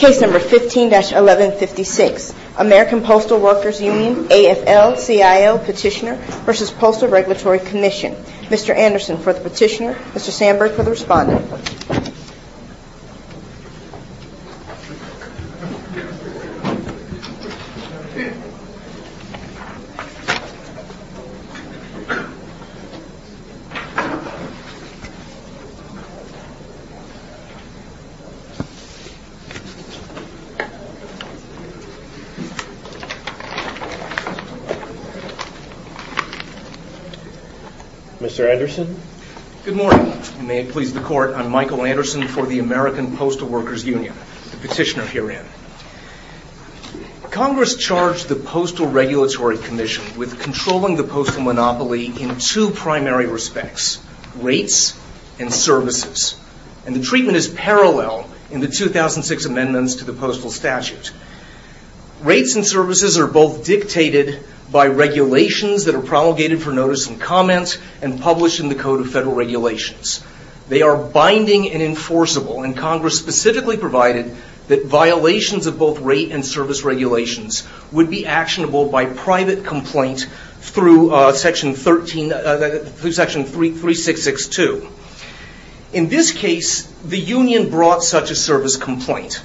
Case No. 15-1156, American Postal Workers Union, AFL-CIO Petitioner v. Postal Regulatory Commission. Mr. Anderson for the petitioner, Mr. Sandberg for the respondent. Mr. Anderson? Good morning. May it please the court, I'm Michael Anderson for the American Postal Workers Union, the petitioner herein. Congress charged the Postal Regulatory Commission with controlling the postal monopoly in two primary respects, rates and services. And the treatment is parallel in the 2006 amendments to the postal statute. Rates and services are both dictated by regulations that are promulgated for notice and comment and published in the Code of Federal Regulations. They are binding and enforceable and Congress specifically provided that violations of both rate and service regulations would be actionable by private complaint through section 3662. In this case, the union brought such a service complaint.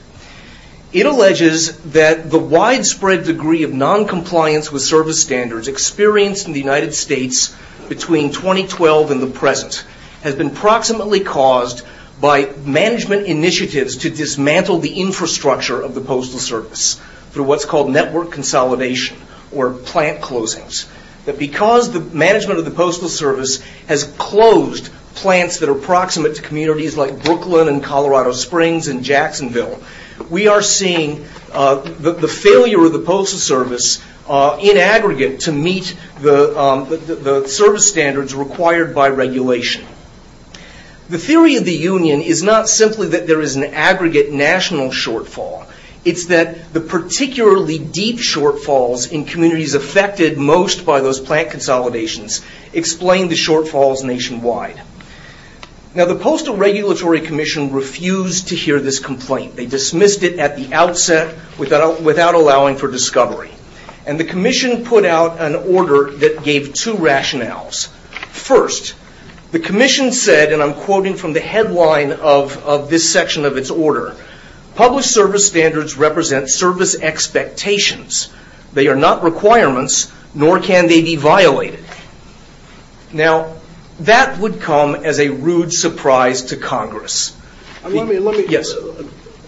It alleges that the widespread degree of noncompliance with service standards experienced in the United States between 2012 and the present has been proximately caused by management initiatives to dismantle the infrastructure of the postal service through what's called network consolidation or plant closings. That because the management of the postal service has closed plants that are proximate to communities like Brooklyn and Colorado Springs and Jacksonville, we are seeing the failure of the postal service in aggregate to meet the service standards required by regulation. The theory of the union is not simply that there is an aggregate national shortfall. It's that the particularly deep shortfalls in communities affected most by those plant consolidations explain the shortfalls nationwide. The Postal Regulatory Commission refused to hear this complaint. They dismissed it at the outset without allowing for discovery. The commission put out an order that gave two rationales. First, the commission said, and I'm quoting from the headline of this section of its order, published service standards represent service expectations. They are not requirements, nor can they be violated. Now, that would come as a rude surprise to Congress. Yes. And the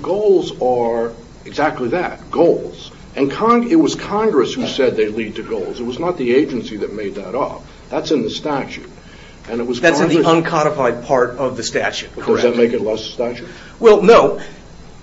goals are exactly that, goals. And it was Congress who said they lead to goals. It was not the agency that made that up. That's in the statute. That's in the uncodified part of the statute, correct. Does that make it less of a statute? Well, no.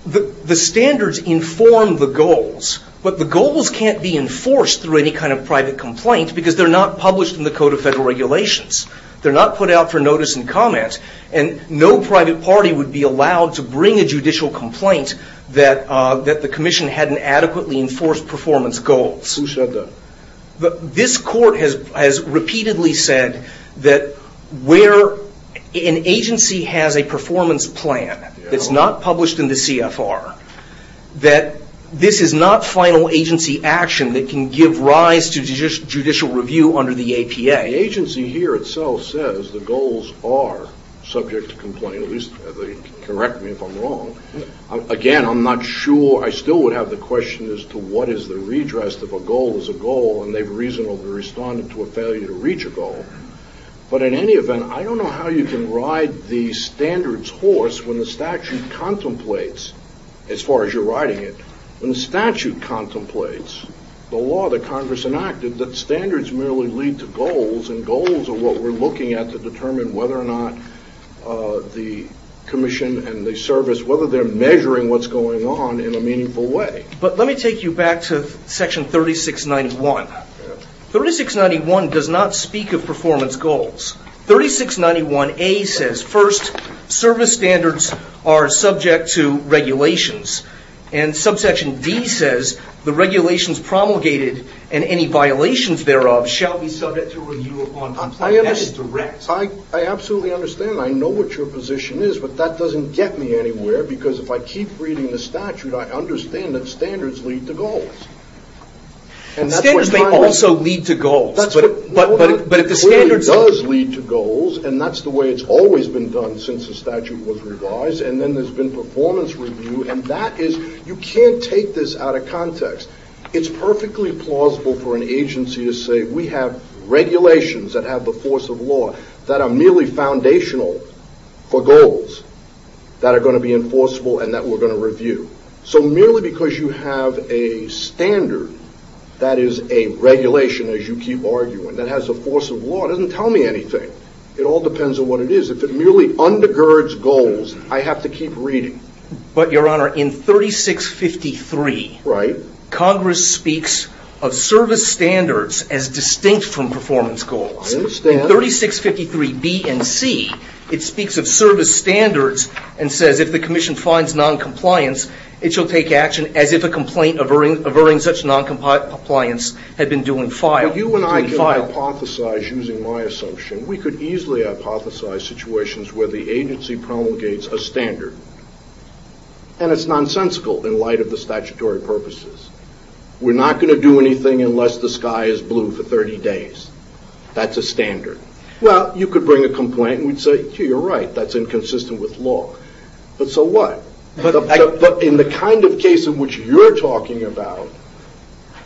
The standards inform the goals, but the goals can't be enforced through any kind of private complaint because they're not published in the Code of Federal Regulations. They're not put out for notice and comment, and no private party would be allowed to bring a judicial complaint that the commission hadn't adequately enforced performance goals. Who said that? This court has repeatedly said that where an agency has a performance plan that's not published in the CFR, that this is not final agency action that can give rise to judicial review under the APA. The agency here itself says the goals are subject to complaint, at least they correct me if I'm wrong. Again, I'm not sure. I still would have the question as to what is the redress if a goal is a goal, and they've reasonably responded to a failure to reach a goal. But in any event, I don't know how you can ride the standards horse when the statute contemplates, as far as you're riding it, when the statute contemplates the law that Congress enacted that standards merely lead to goals, and goals are what we're looking at to determine whether or not the commission and the service, whether they're measuring what's going on in a meaningful way. But let me take you back to section 3691. 3691 does not speak of performance goals. 3691A says first, service standards are subject to regulations, and subsection D says the regulations promulgated and any violations thereof shall be subject to review upon complaint. I absolutely understand. I know what your position is, but that doesn't get me anywhere, because if I keep reading the statute, I understand that standards lead to goals. Standards may also lead to goals. That are merely foundational for goals that are going to be enforceable and that we're going to review. So merely because you have a standard that is a regulation, as you keep arguing, that has a force of law doesn't tell me anything. It all depends on what it is. If it merely undergirds goals, I have to keep reading. But your honor, in 3653, Congress speaks of service standards as distinct from performance goals. I understand. In 3653B and C, it speaks of service standards and says if the commission finds noncompliance, it shall take action as if a complaint averring such noncompliance had been due in file. Now you and I can hypothesize, using my assumption, we could easily hypothesize situations where the agency promulgates a standard, and it's nonsensical in light of the statutory purposes. We're not going to do anything unless the sky is blue for 30 days. That's a standard. Well, you could bring a complaint and we'd say, yeah, you're right, that's inconsistent with law. But so what? But in the kind of case in which you're talking about,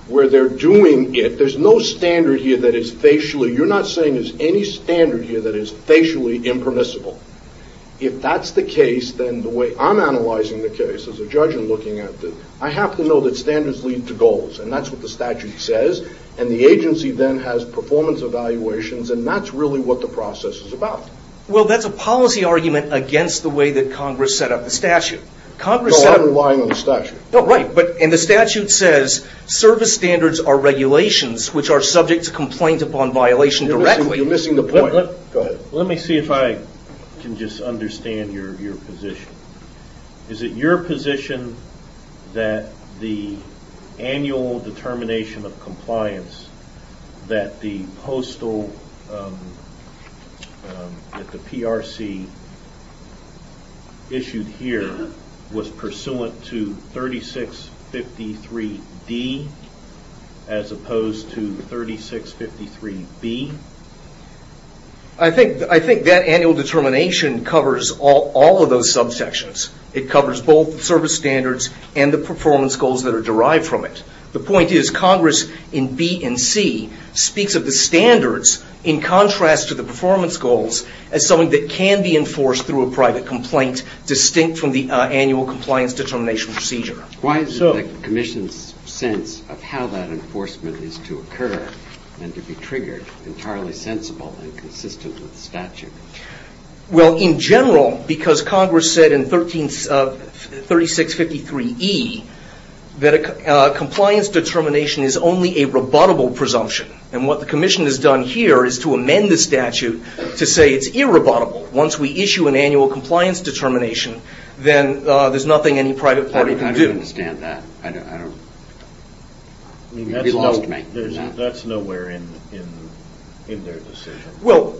where they're doing it, there's no standard here that is facially, you're not saying there's any standard here that is facially impermissible. If that's the case, then the way I'm analyzing the case as a judge in looking at this, I have to know that standards lead to goals. And that's what the statute says. And the agency then has performance evaluations, and that's really what the process is about. Well, that's a policy argument against the way that Congress set up the statute. No, I'm relying on the statute. Oh, right. And the statute says service standards are regulations which are subject to complaint upon violation directly. You're missing the point. Go ahead. Let me see if I can just understand your position. Is it your position that the annual determination of compliance that the PRC issued here was pursuant to 3653D as opposed to 3653B? I think that annual determination covers all of those subsections. It covers both the service standards and the performance goals that are derived from it. The point is Congress in B and C speaks of the standards in contrast to the performance goals as something that can be enforced through a private complaint distinct from the annual compliance determination procedure. Why isn't the commission's sense of how that enforcement is to occur and to be triggered entirely sensible and consistent with the statute? Well, in general, because Congress said in 3653E that a compliance determination is only a rebuttable presumption. And what the commission has done here is to amend the statute to say it's irrebuttable. Once we issue an annual compliance determination, then there's nothing any private party can do. I don't understand that. That's nowhere in their decision. Well,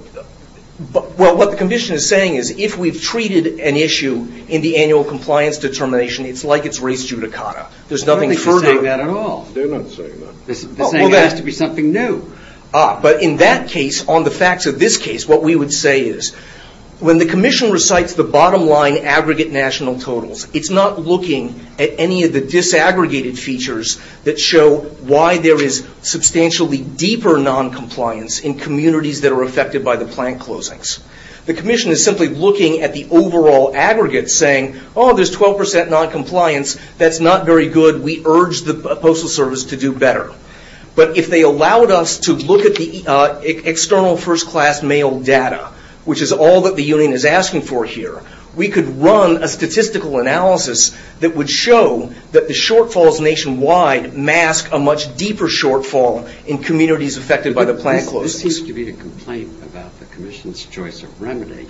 what the commission is saying is if we've treated an issue in the annual compliance determination, it's like it's res judicata. They're not saying that at all. They're not saying that. They're saying it has to be something new. But in that case, on the facts of this case, what we would say is when the commission recites the bottom line aggregate national totals, it's not looking at any of the disaggregated features that show why there is substantially deeper noncompliance in communities that are affected by the plant closings. The commission is simply looking at the overall aggregate saying, oh, there's 12% noncompliance. That's not very good. We urge the Postal Service to do better. But if they allowed us to look at the external first class mail data, which is all that the union is asking for here, we could run a statistical analysis that would show that the shortfalls nationwide mask a much deeper shortfall in communities affected by the plant closings. But this seems to be a complaint about the commission's choice of remedy.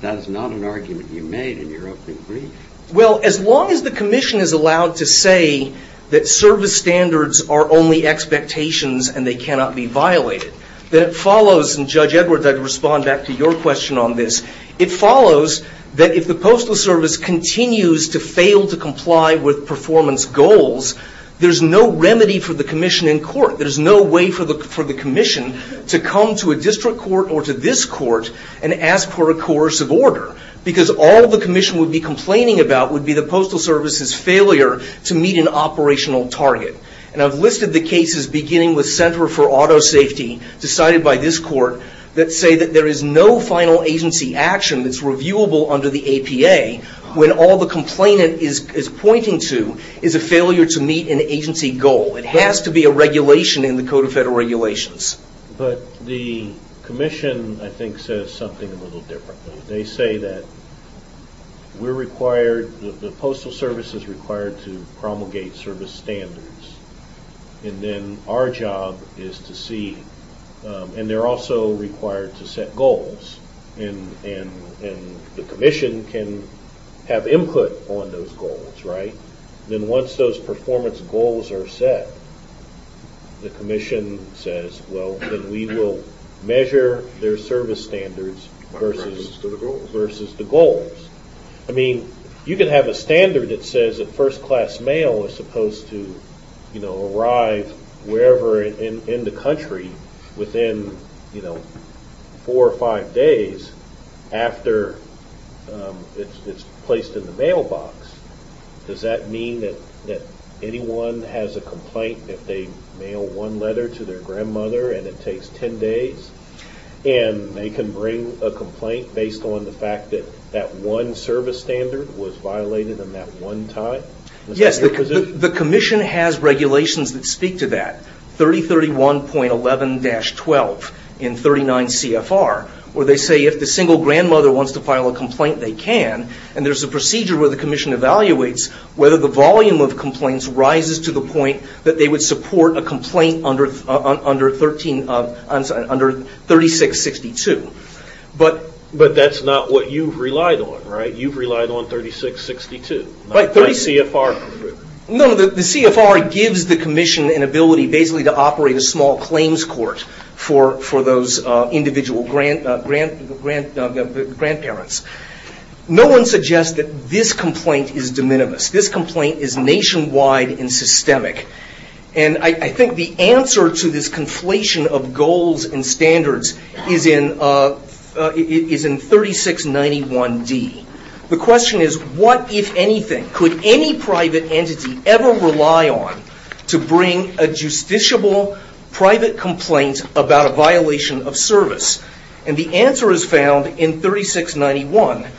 That is not an argument you made in your opening brief. Well, as long as the commission is allowed to say that service standards are only expectations and they cannot be violated, then it follows, and Judge Edwards, I'd respond back to your question on this, it follows that if the Postal Service continues to fail to comply with performance goals, there's no remedy for the commission in court. There's no way for the commission to come to a district court or to this court and ask for a coercive order. Because all the commission would be complaining about would be the Postal Service's failure to meet an operational target. And I've listed the cases, beginning with Center for Auto Safety, decided by this court, that say that there is no final agency action that's reviewable under the APA when all the complainant is pointing to is a failure to meet an agency goal. It has to be a regulation in the Code of Federal Regulations. But the commission, I think, says something a little differently. They say that the Postal Service is required to promulgate service standards, and then our job is to see, and they're also required to set goals, and the commission can have input on those goals, right? Then once those performance goals are set, the commission says, well, then we will measure their service standards versus the goals. I mean, you can have a standard that says that first-class mail is supposed to arrive wherever in the country within four or five days after it's placed in the mailbox. Does that mean that anyone has a complaint if they mail one letter to their grandmother and it takes ten days, and they can bring a complaint based on the fact that that one service standard was violated in that one time? Yes, the commission has regulations that speak to that, 3031.11-12 in 39 CFR, where they say if the single grandmother wants to file a complaint, they can, and there's a procedure where the commission evaluates whether the volume of complaints rises to the point that they would support a complaint under 3662. But that's not what you've relied on, right? You've relied on 3662, not 30 CFR. No, the CFR gives the commission an ability basically to operate a small claims court for those individual grandparents. No one suggests that this complaint is de minimis. This complaint is nationwide and systemic. And I think the answer to this conflation of goals and standards is in 3691D. The question is, what, if anything, could any private entity ever rely on to bring a justiciable private complaint about a violation of service? And the answer is found in 3691D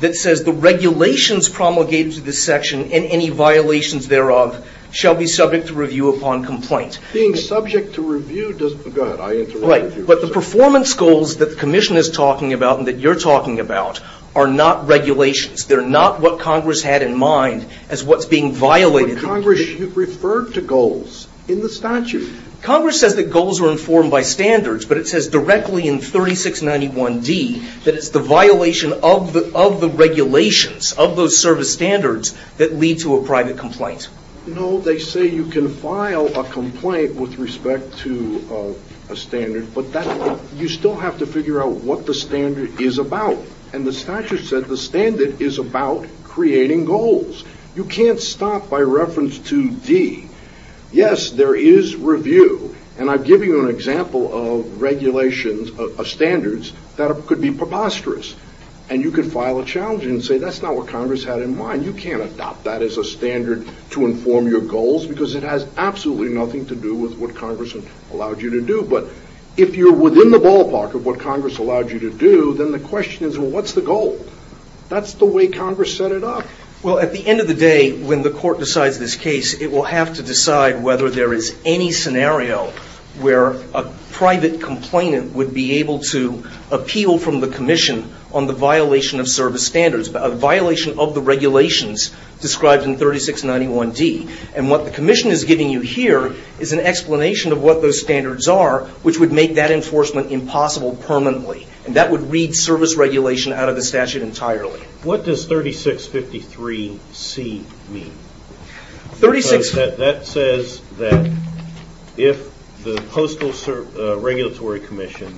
that says the regulations promulgated to this section and any violations thereof shall be subject to review upon complaint. Being subject to review doesn't, go ahead, I interrupted you. Right, but the performance goals that the commission is talking about and that you're talking about are not regulations. They're not what Congress had in mind as what's being violated. But Congress, you've referred to goals in the statute. Congress says that goals are informed by standards, but it says directly in 3691D that it's the violation of the regulations, of those service standards that lead to a private complaint. No, they say you can file a complaint with respect to a standard, but you still have to figure out what the standard is about. And the statute said the standard is about creating goals. You can't stop by reference to D. Yes, there is review, and I've given you an example of regulations, of standards, that could be preposterous. And you could file a challenge and say that's not what Congress had in mind. You can't adopt that as a standard to inform your goals because it has absolutely nothing to do with what Congress allowed you to do. But if you're within the ballpark of what Congress allowed you to do, then the question is, well, what's the goal? That's the way Congress set it up. Well, at the end of the day, when the court decides this case, it will have to decide whether there is any scenario where a private complainant would be able to appeal from the commission on the violation of service standards, a violation of the regulations described in 3691D. And what the commission is giving you here is an explanation of what those standards are, which would make that enforcement impossible permanently. And that would read service regulation out of the statute entirely. What does 3653C mean? That says that if the Postal Regulatory Commission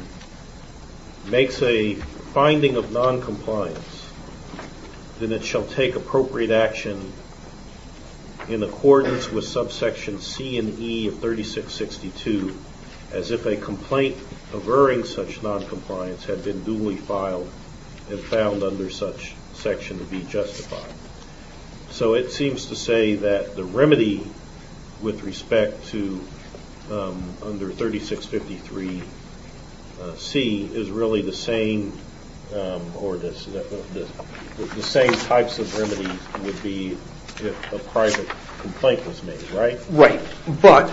makes a finding of noncompliance, then it shall take appropriate action in accordance with subsection C and E of 3662 as if a complaint averring such noncompliance had been duly filed and found under such section to be justified. So it seems to say that the remedy with respect to under 3653C is really the same or the same types of remedies would be if a private complaint was made, right? Right. But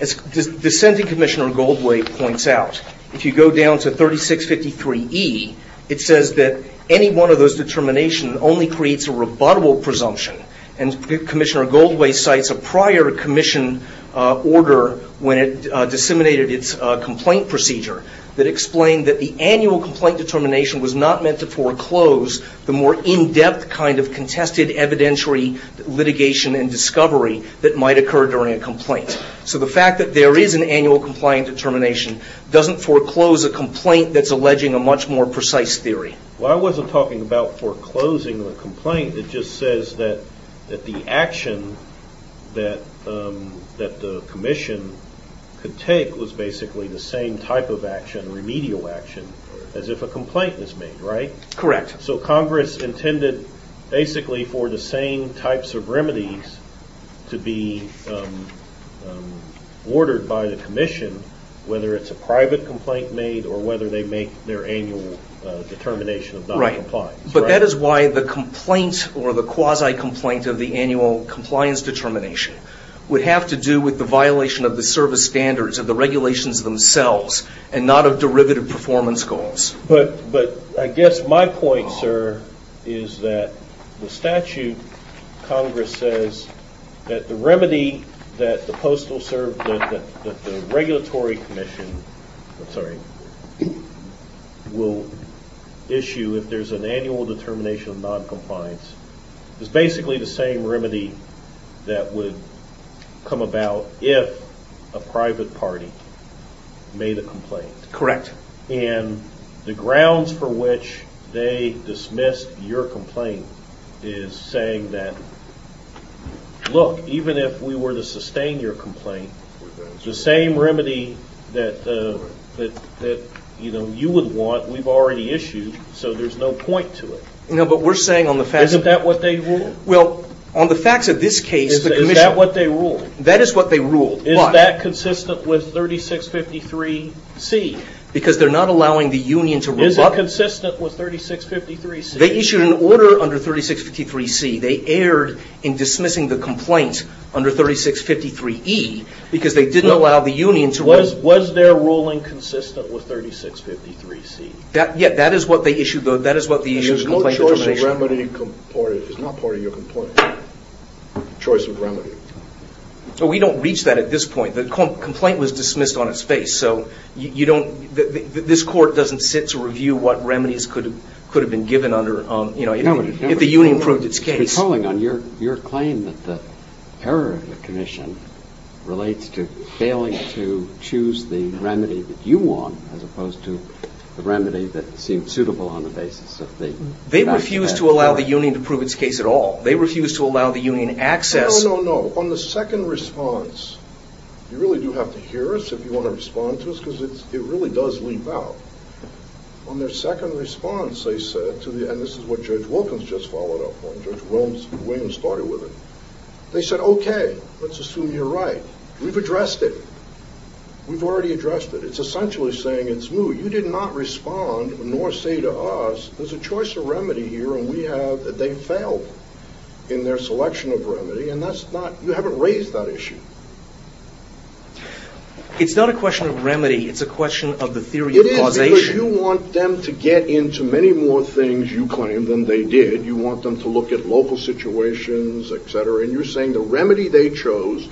as the Senate Commissioner Goldway points out, if you go down to 3653E, it says that any one of those determinations only creates a rebuttable presumption. And Commissioner Goldway cites a prior commission order when it disseminated its complaint procedure that explained that the annual complaint determination was not meant to foreclose the more in-depth kind of contested evidentiary litigation and discovery that might occur during a complaint. So the fact that there is an annual complaint determination doesn't foreclose a complaint that's alleging a much more precise theory. Well, I wasn't talking about foreclosing a complaint. It just says that the action that the commission could take was basically the same type of action, remedial action, as if a complaint was made, right? Correct. So Congress intended basically for the same types of remedies to be ordered by the commission, whether it's a private complaint made or whether they make their annual determination of noncompliance. Right. But that is why the complaint or the quasi-complaint of the annual compliance determination would have to do with the violation of the service standards of the regulations themselves and not of derivative performance goals. But I guess my point, sir, is that the statute, Congress says, that the remedy that the regulatory commission will issue if there's an annual determination of noncompliance is basically the same remedy that would come about if a private party made a complaint. Correct. And the grounds for which they dismissed your complaint is saying that, look, even if we were to sustain your complaint, the same remedy that, you know, you would want, we've already issued, so there's no point to it. No, but we're saying on the facts... Isn't that what they ruled? Well, on the facts of this case, the commission... Is that what they ruled? That is what they ruled. Is that consistent with 3653C? Because they're not allowing the union to... Is it consistent with 3653C? They issued an order under 3653C. They erred in dismissing the complaint under 3653E because they didn't allow the union to... Was their ruling consistent with 3653C? Yeah, that is what they issued, though. That is what the issue of complaint determination... It's not part of your complaint, choice of remedy. We don't reach that at this point. The complaint was dismissed on its face, so this court doesn't sit to review what remedies could have been given if the union proved its case. Recalling on your claim that the error of the commission relates to failing to choose the remedy that you want as opposed to the remedy that seemed suitable on the basis of the facts... They refused to allow the union to prove its case at all. They refused to allow the union access... No, no, no. On the second response, you really do have to hear us if you want to respond to us because it really does leap out. On their second response, they said to the... And this is what Judge Wilkins just followed up on. Judge Williams started with it. They said, okay, let's assume you're right. We've addressed it. We've already addressed it. It's essentially saying it's moot. You did not respond nor say to us there's a choice of remedy here and we have... They failed in their selection of remedy and you haven't raised that issue. It's not a question of remedy. It's a question of the theory of causation. It is because you want them to get into many more things you claim than they did. You want them to look at local situations, et cetera, and you're saying the remedy they chose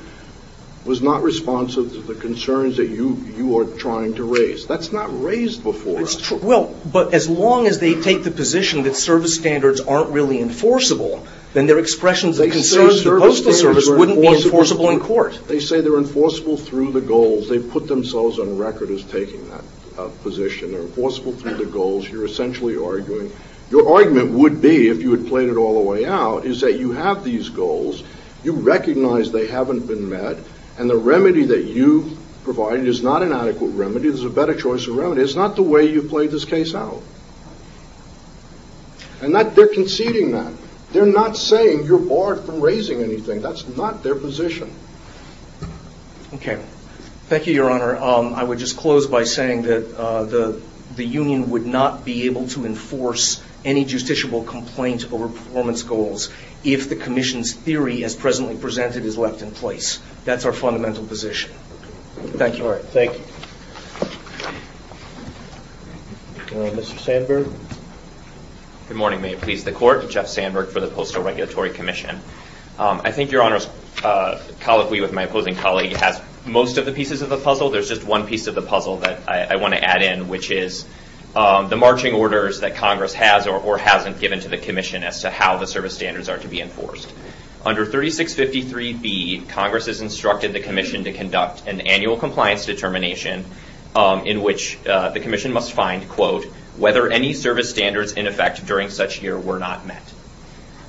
was not responsive to the concerns that you are trying to raise. That's not raised before us. Well, but as long as they take the position that service standards aren't really enforceable, then their expressions of concern to the postal service wouldn't be enforceable in court. They say they're enforceable through the goals. They've put themselves on record as taking that position. They're enforceable through the goals. You're essentially arguing... Your argument would be, if you had played it all the way out, is that you have these goals, you recognize they haven't been met, and the remedy that you've provided is not an adequate remedy. There's a better choice of remedy. It's not the way you've played this case out. And they're conceding that. They're not saying you're barred from raising anything. That's not their position. Okay. Thank you, Your Honor. I would just close by saying that the union would not be able to enforce any justiciable complaint over performance goals if the commission's theory as presently presented is left in place. That's our fundamental position. Thank you. All right. Thank you. Mr. Sandberg. Good morning. May it please the Court. Jeff Sandberg for the Postal Regulatory Commission. I think Your Honor's colloquy with my opposing colleague has most of the pieces of the puzzle. There's just one piece of the puzzle that I want to add in, which is the marching orders that Congress has or hasn't given to the commission as to how the service standards are to be enforced. Under 3653B, Congress has instructed the commission to conduct an annual compliance determination in which the commission must find, quote, whether any service standards in effect during such year were not met.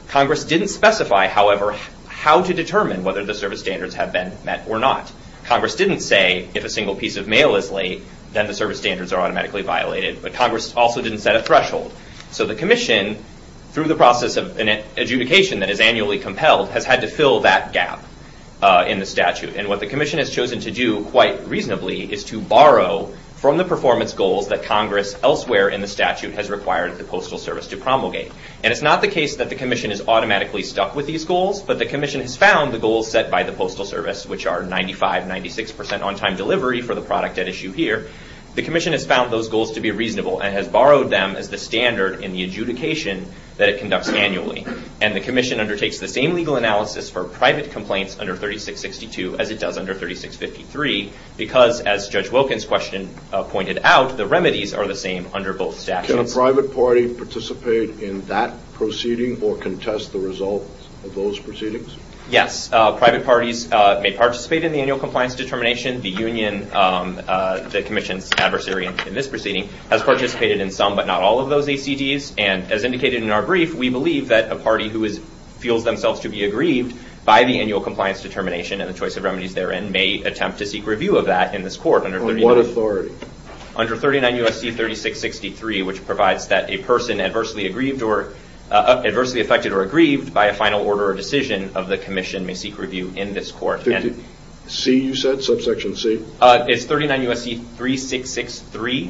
Congress didn't specify, however, how to determine whether the service standards have been met or not. Congress didn't say if a single piece of mail is late, then the service standards are automatically violated. But Congress also didn't set a threshold. So the commission, through the process of adjudication that is annually compelled, has had to fill that gap in the statute. And what the commission has chosen to do, quite reasonably, is to borrow from the performance goals that Congress elsewhere in the statute has required the Postal Service to promulgate. And it's not the case that the commission is automatically stuck with these goals, but the commission has found the goals set by the Postal Service, which are 95%, 96% on-time delivery for the product at issue here. The commission has found those goals to be reasonable and has borrowed them as the standard in the adjudication that it conducts annually. And the commission undertakes the same legal analysis for private complaints under 3662 as it does under 3653, because, as Judge Wilkins' question pointed out, the remedies are the same under both statutes. Can a private party participate in that proceeding or contest the results of those proceedings? Yes, private parties may participate in the annual compliance determination. The commission's adversary in this proceeding has participated in some but not all of those ACDs. And as indicated in our brief, we believe that a party who feels themselves to be aggrieved by the annual compliance determination and the choice of remedies therein may attempt to seek review of that in this court. Under what authority? Under 39 U.S.C. 3663, which provides that a person adversely affected or aggrieved by a final order or decision of the commission may seek review in this court. C, you said? Subsection C? It's 39 U.S.C. 3663,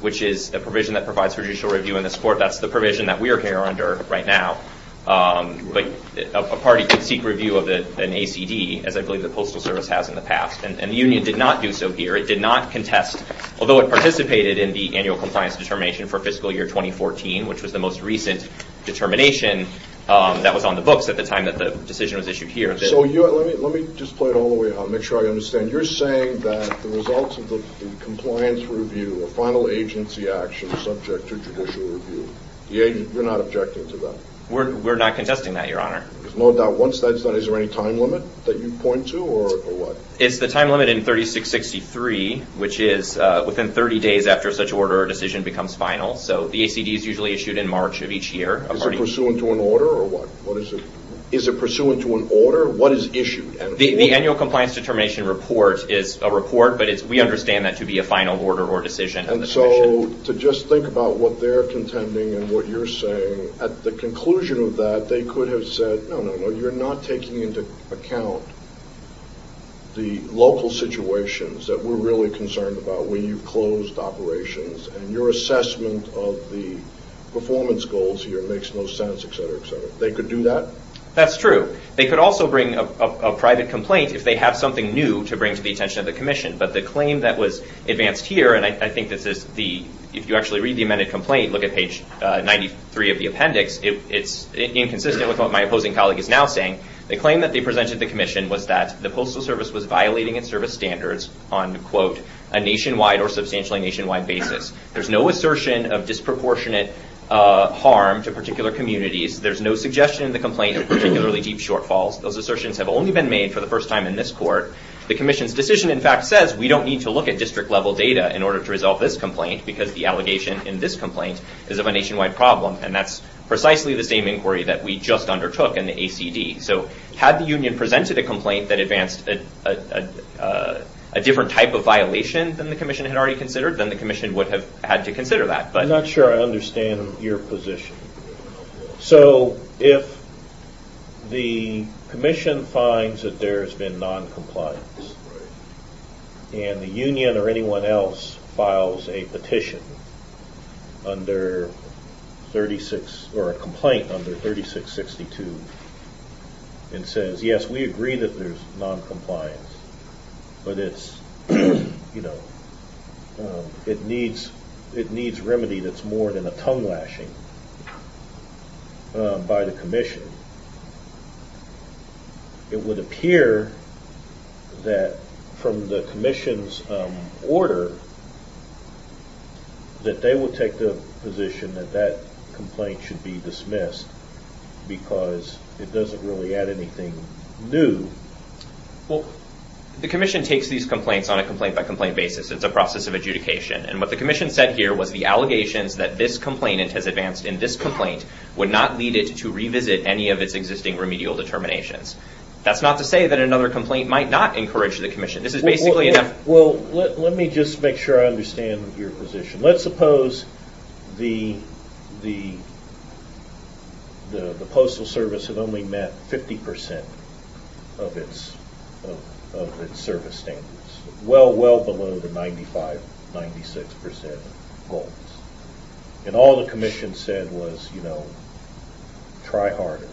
which is a provision that provides judicial review in this court. That's the provision that we are here under right now. But a party can seek review of an ACD, as I believe the Postal Service has in the past. And the union did not do so here. It did not contest, although it participated in the annual compliance determination for fiscal year 2014, which was the most recent determination that was on the books at the time that the decision was issued here. So let me just play it all the way out, make sure I understand. You're saying that the results of the compliance review, the final agency action subject to judicial review, you're not objecting to that? We're not contesting that, Your Honor. There's no doubt. Is there any time limit that you point to, or what? It's the time limit in 3663, which is within 30 days after such an order or decision becomes final. So the ACD is usually issued in March of each year. Is it pursuant to an order, or what? What is it? Is it pursuant to an order? What is issued? The annual compliance determination report is a report, but we understand that to be a final order or decision. And so to just think about what they're contending and what you're saying, at the conclusion of that they could have said, No, no, no, you're not taking into account the local situations that we're really concerned about when you've closed operations and your assessment of the performance goals here makes no sense, et cetera, et cetera. They could do that? That's true. They could also bring a private complaint if they have something new to bring to the attention of the commission. But the claim that was advanced here, and I think if you actually read the amended complaint, look at page 93 of the appendix, it's inconsistent with what my opposing colleague is now saying. The claim that they presented to the commission was that the Postal Service was violating its service standards on, quote, a nationwide or substantially nationwide basis. There's no assertion of disproportionate harm to particular communities. There's no suggestion in the complaint of particularly deep shortfalls. Those assertions have only been made for the first time in this court. The commission's decision, in fact, says we don't need to look at district-level data in order to resolve this complaint because the allegation in this complaint is of a nationwide problem, and that's precisely the same inquiry that we just undertook in the ACD. So had the union presented a complaint that advanced a different type of violation than the commission had already considered, then the commission would have had to consider that. I'm not sure I understand your position. So if the commission finds that there's been noncompliance and the union or anyone else files a petition or a complaint under 3662 and says, yes, we agree that there's noncompliance, but it needs remedy that's more than a tongue-lashing by the commission, it would appear that from the commission's order that they would take the position that that complaint should be dismissed because it doesn't really add anything new. Well, the commission takes these complaints on a complaint-by-complaint basis. It's a process of adjudication. And what the commission said here was the allegations that this complainant has advanced in this complaint would not lead it to revisit any of its existing remedial determinations. That's not to say that another complaint might not encourage the commission. This is basically enough. Well, let me just make sure I understand your position. Let's suppose the Postal Service had only met 50% of its service standards, well, well below the 95, 96% goals. And all the commission said was, you know, try harder.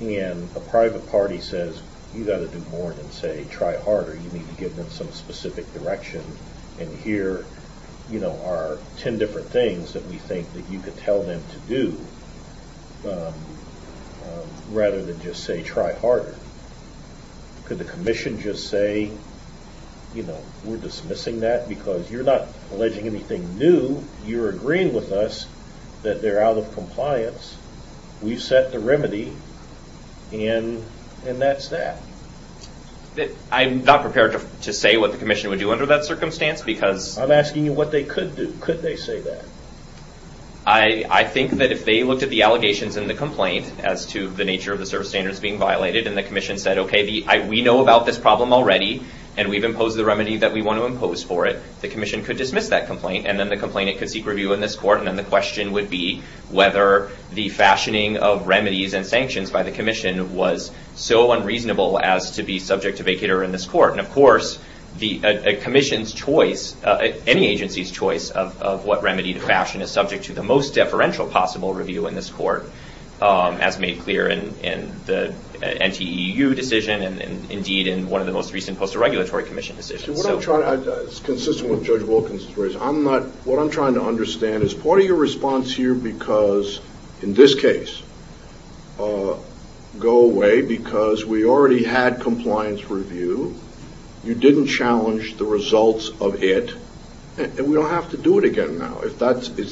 And a private party says, you've got to do more than say try harder. You need to give them some specific direction. And here are 10 different things that we think that you could tell them to do rather than just say try harder. Could the commission just say, you know, we're dismissing that because you're not alleging anything new. You're agreeing with us that they're out of compliance. We've set the remedy, and that's that. I'm not prepared to say what the commission would do under that circumstance because I'm asking you what they could do. Could they say that? I think that if they looked at the allegations in the complaint as to the nature of the service standards being violated and the commission said, okay, we know about this problem already and we've imposed the remedy that we want to impose for it, the commission could dismiss that complaint and then the complainant could seek review in this court. And then the question would be whether the fashioning of remedies and sanctions by the commission was so unreasonable as to be subject to vacater in this court. And, of course, a commission's choice, any agency's choice of what remedy to fashion is subject to the most deferential possible review in this court, as made clear in the NTEU decision and, indeed, in one of the most recent post-regulatory commission decisions. It's consistent with Judge Wilkins. What I'm trying to understand is part of your response here because, in this case, go away because we already had compliance review, you didn't challenge the results of it, and we don't have to do it again now. Is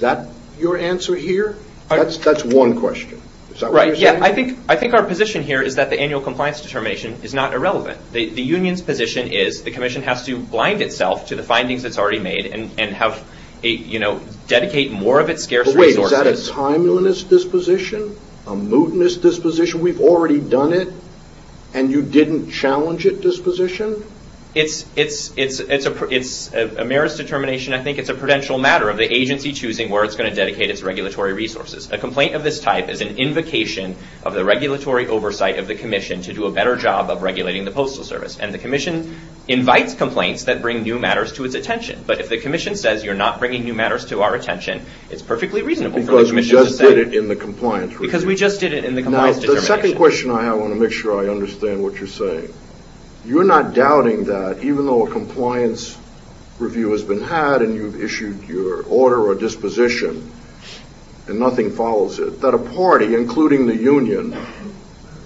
that your answer here? That's one question. Is that what you're saying? I think our position here is that the annual compliance determination is not irrelevant. The union's position is the commission has to blind itself to the findings it's already made and dedicate more of its scarce resources. Wait, is that a timeliness disposition? A mootness disposition? We've already done it and you didn't challenge it disposition? It's a merits determination. I think it's a prudential matter of the agency choosing where it's going to dedicate its regulatory resources. A complaint of this type is an invocation of the regulatory oversight of the commission to do a better job of regulating the Postal Service, and the commission invites complaints that bring new matters to its attention. But if the commission says you're not bringing new matters to our attention, it's perfectly reasonable for the commission to say. Because we just did it in the compliance review. Because we just did it in the compliance determination. Now, the second question I have, I want to make sure I understand what you're saying. You're not doubting that even though a compliance review has been had and you've issued your order or disposition and nothing follows it, that a party, including the union,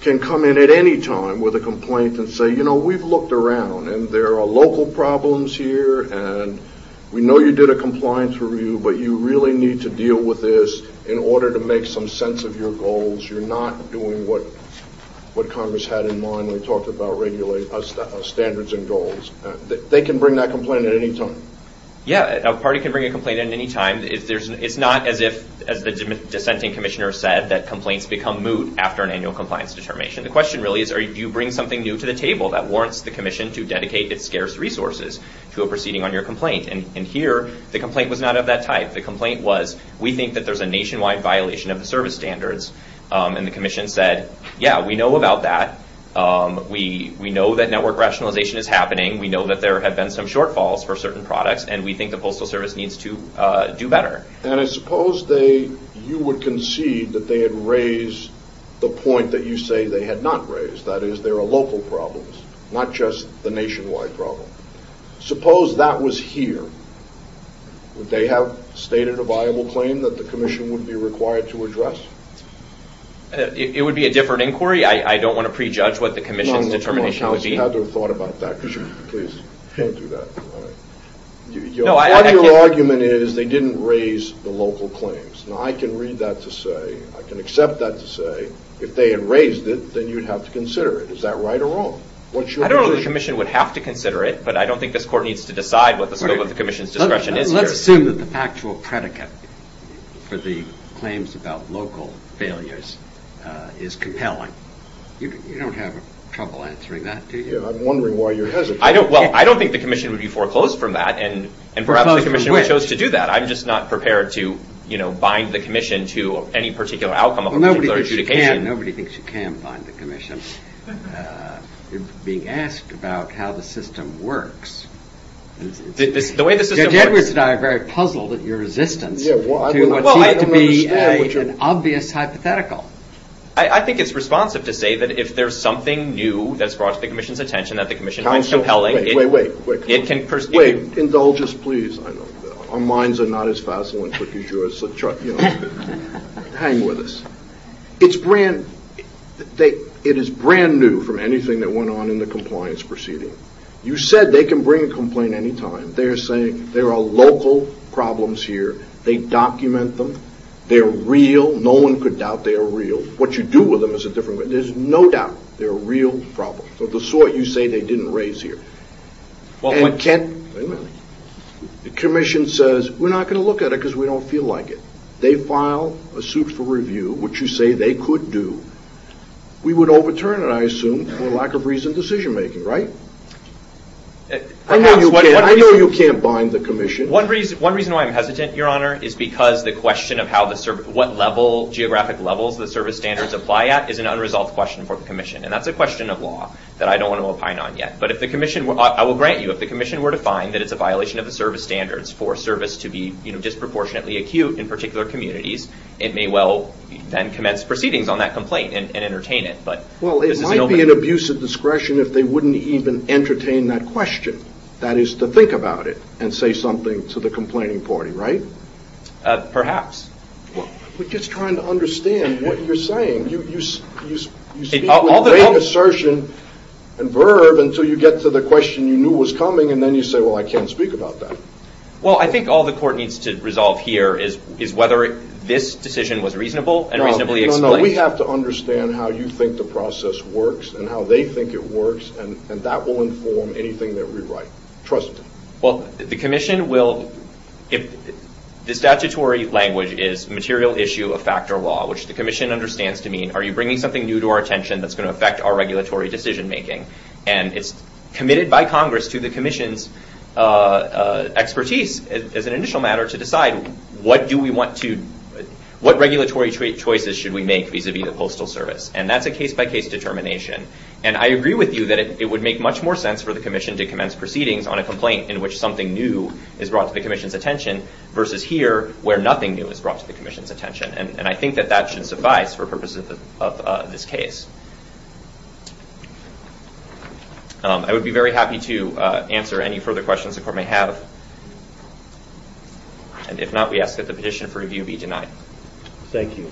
can come in at any time with a complaint and say, you know, we've looked around and there are local problems here and we know you did a compliance review, but you really need to deal with this in order to make some sense of your goals. You're not doing what Congress had in mind when we talked about standards and goals. They can bring that complaint at any time. Yeah, a party can bring a complaint at any time. It's not as if, as the dissenting commissioner said, that complaints become moot after an annual compliance determination. The question really is, do you bring something new to the table that warrants the commission to dedicate its scarce resources to a proceeding on your complaint? And here, the complaint was not of that type. The complaint was, we think that there's a nationwide violation of the service standards. And the commission said, yeah, we know about that. We know that network rationalization is happening. We know that there have been some shortfalls for certain products, and we think the Postal Service needs to do better. And I suppose you would concede that they had raised the point that you say they had not raised, that is, there are local problems, not just the nationwide problem. Suppose that was here. Would they have stated a viable claim that the commission would be required to address? It would be a different inquiry. I don't want to prejudge what the commission's determination would be. I haven't had the thought about that, because you can't do that. Part of your argument is they didn't raise the local claims. Now, I can read that to say, I can accept that to say, if they had raised it, then you'd have to consider it. Is that right or wrong? I don't know that the commission would have to consider it, but I don't think this Court needs to decide what the scope of the commission's discretion is here. Let's assume that the factual predicate for the claims about local failures is compelling. You don't have trouble answering that, do you? I'm wondering why you're hesitant. Well, I don't think the commission would be foreclosed from that, and perhaps the commission chose to do that. I'm just not prepared to bind the commission to any particular outcome of a particular adjudication. Nobody thinks you can bind the commission. You're being asked about how the system works. The way the system works. Judge Edwards and I are very puzzled at your resistance to what seems to be an obvious hypothetical. I think it's responsive to say that if there's something new that's brought to the commission's attention, that the commission finds compelling, it can proceed. Wait. Indulge us, please. Our minds are not as facile and quick as yours, so hang with us. It is brand new from anything that went on in the compliance proceeding. You said they can bring a complaint any time. They're saying there are local problems here. They document them. They're real. No one could doubt they're real. What you do with them is a different question. There's no doubt they're a real problem. The sort you say they didn't raise here. Wait a minute. The commission says, we're not going to look at it because we don't feel like it. They file a suit for review, which you say they could do. We would overturn it, I assume, for lack of reason decision-making, right? I know you can't bind the commission. One reason why I'm hesitant, Your Honor, is because the question of what geographic levels the service standards apply at is an unresolved question for the commission. And that's a question of law that I don't want to opine on yet. But I will grant you, if the commission were to find that it's a violation of the service standards for service to be disproportionately acute in particular communities, it may well then commence proceedings on that complaint and entertain it. Well, it might be an abuse of discretion if they wouldn't even entertain that question. That is to think about it and say something to the complaining party, right? Perhaps. We're just trying to understand what you're saying. You speak with great assertion and verb until you get to the question you knew was coming, and then you say, well, I can't speak about that. Well, I think all the court needs to resolve here is whether this decision was reasonable and reasonably explained. No, no, no. We have to understand how you think the process works and how they think it works, and that will inform anything that we write. Trust me. Well, the commission will – the statutory language is material issue of factor law, which the commission understands to mean are you bringing something new to our attention that's going to affect our regulatory decision-making? And it's committed by Congress to the commission's expertise as an initial matter to decide what do we want to – what regulatory choices should we make vis-à-vis the Postal Service. And that's a case-by-case determination. And I agree with you that it would make much more sense for the commission to commence proceedings on a complaint in which something new is brought to the commission's attention versus here where nothing new is brought to the commission's attention. And I think that that should suffice for purposes of this case. I would be very happy to answer any further questions the court may have. And if not, we ask that the petition for review be denied. Thank you.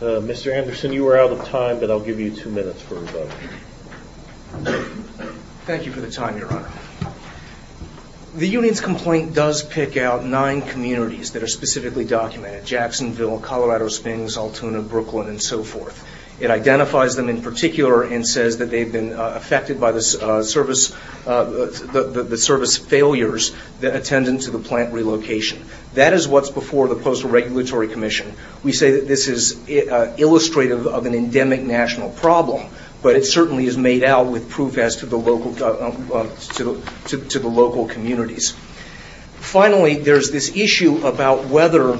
Mr. Anderson, you are out of time, but I'll give you two minutes for rebuttal. Thank you for the time, Your Honor. The union's complaint does pick out nine communities that are specifically documented, Jacksonville, Colorado Springs, Altoona, Brooklyn, and so forth. It identifies them in particular and says that they've been affected by the service failures that attended to the plant relocation. That is what's before the Postal Regulatory Commission. We say that this is illustrative of an endemic national problem, but it certainly is made out with proof as to the local communities. Finally, there's this issue about whether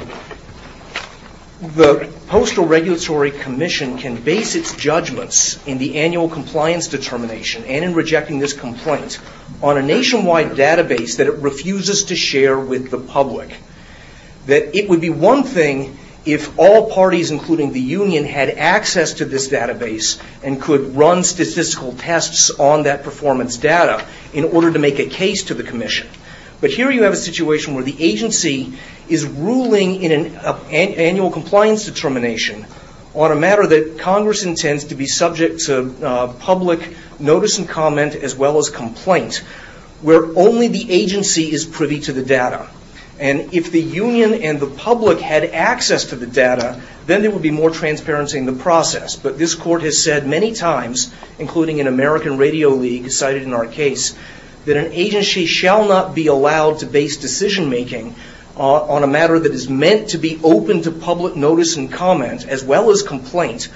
the Postal Regulatory Commission can base its judgments in the annual compliance determination and in rejecting this complaint on a nationwide database that it refuses to share with the public. It would be one thing if all parties, including the union, had access to this database and could run statistical tests on that performance data in order to make a case to the commission. But here you have a situation where the agency is ruling in an annual compliance determination on a matter that Congress intends to be subject to public notice and comment as well as complaint, where only the agency is privy to the data. And if the union and the public had access to the data, then there would be more transparency in the process. But this court has said many times, including in American Radio League, cited in our case, that an agency shall not be allowed to base decision-making on a matter that is meant to be open to public notice and comment as well as complaint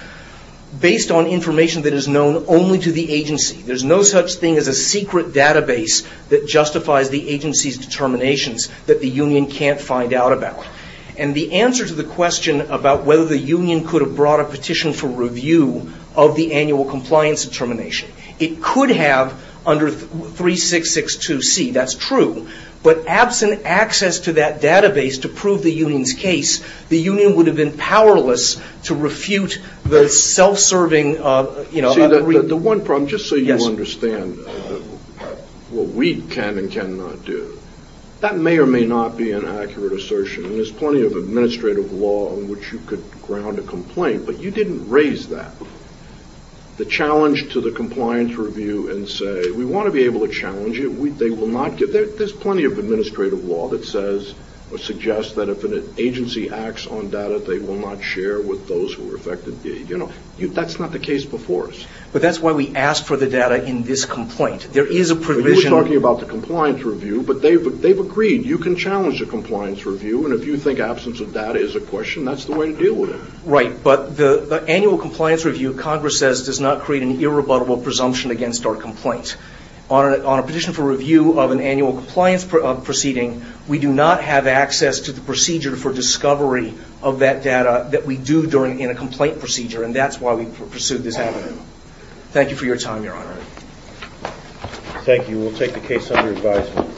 based on information that is known only to the agency. There's no such thing as a secret database that justifies the agency's determinations. That the union can't find out about. And the answer to the question about whether the union could have brought a petition for review of the annual compliance determination, it could have under 3662C. That's true. But absent access to that database to prove the union's case, the union would have been powerless to refute the self-serving, you know, agreement. But the one problem, just so you understand what we can and cannot do, that may or may not be an accurate assertion. And there's plenty of administrative law in which you could ground a complaint, but you didn't raise that. The challenge to the compliance review and say, we want to be able to challenge you, they will not give that. There's plenty of administrative law that says or suggests that if an agency acts on data, they will not share with those who are affected. That's not the case before us. But that's why we ask for the data in this complaint. There is a provision. You were talking about the compliance review, but they've agreed. You can challenge a compliance review, and if you think absence of data is a question, that's the way to deal with it. Right, but the annual compliance review, Congress says, does not create an irrebuttable presumption against our complaint. On a petition for review of an annual compliance proceeding, we do not have access to the procedure for discovery of that data that we do in a complaint procedure, and that's why we pursued this avenue. Thank you for your time, Your Honor. Thank you. We'll take the case under advisement.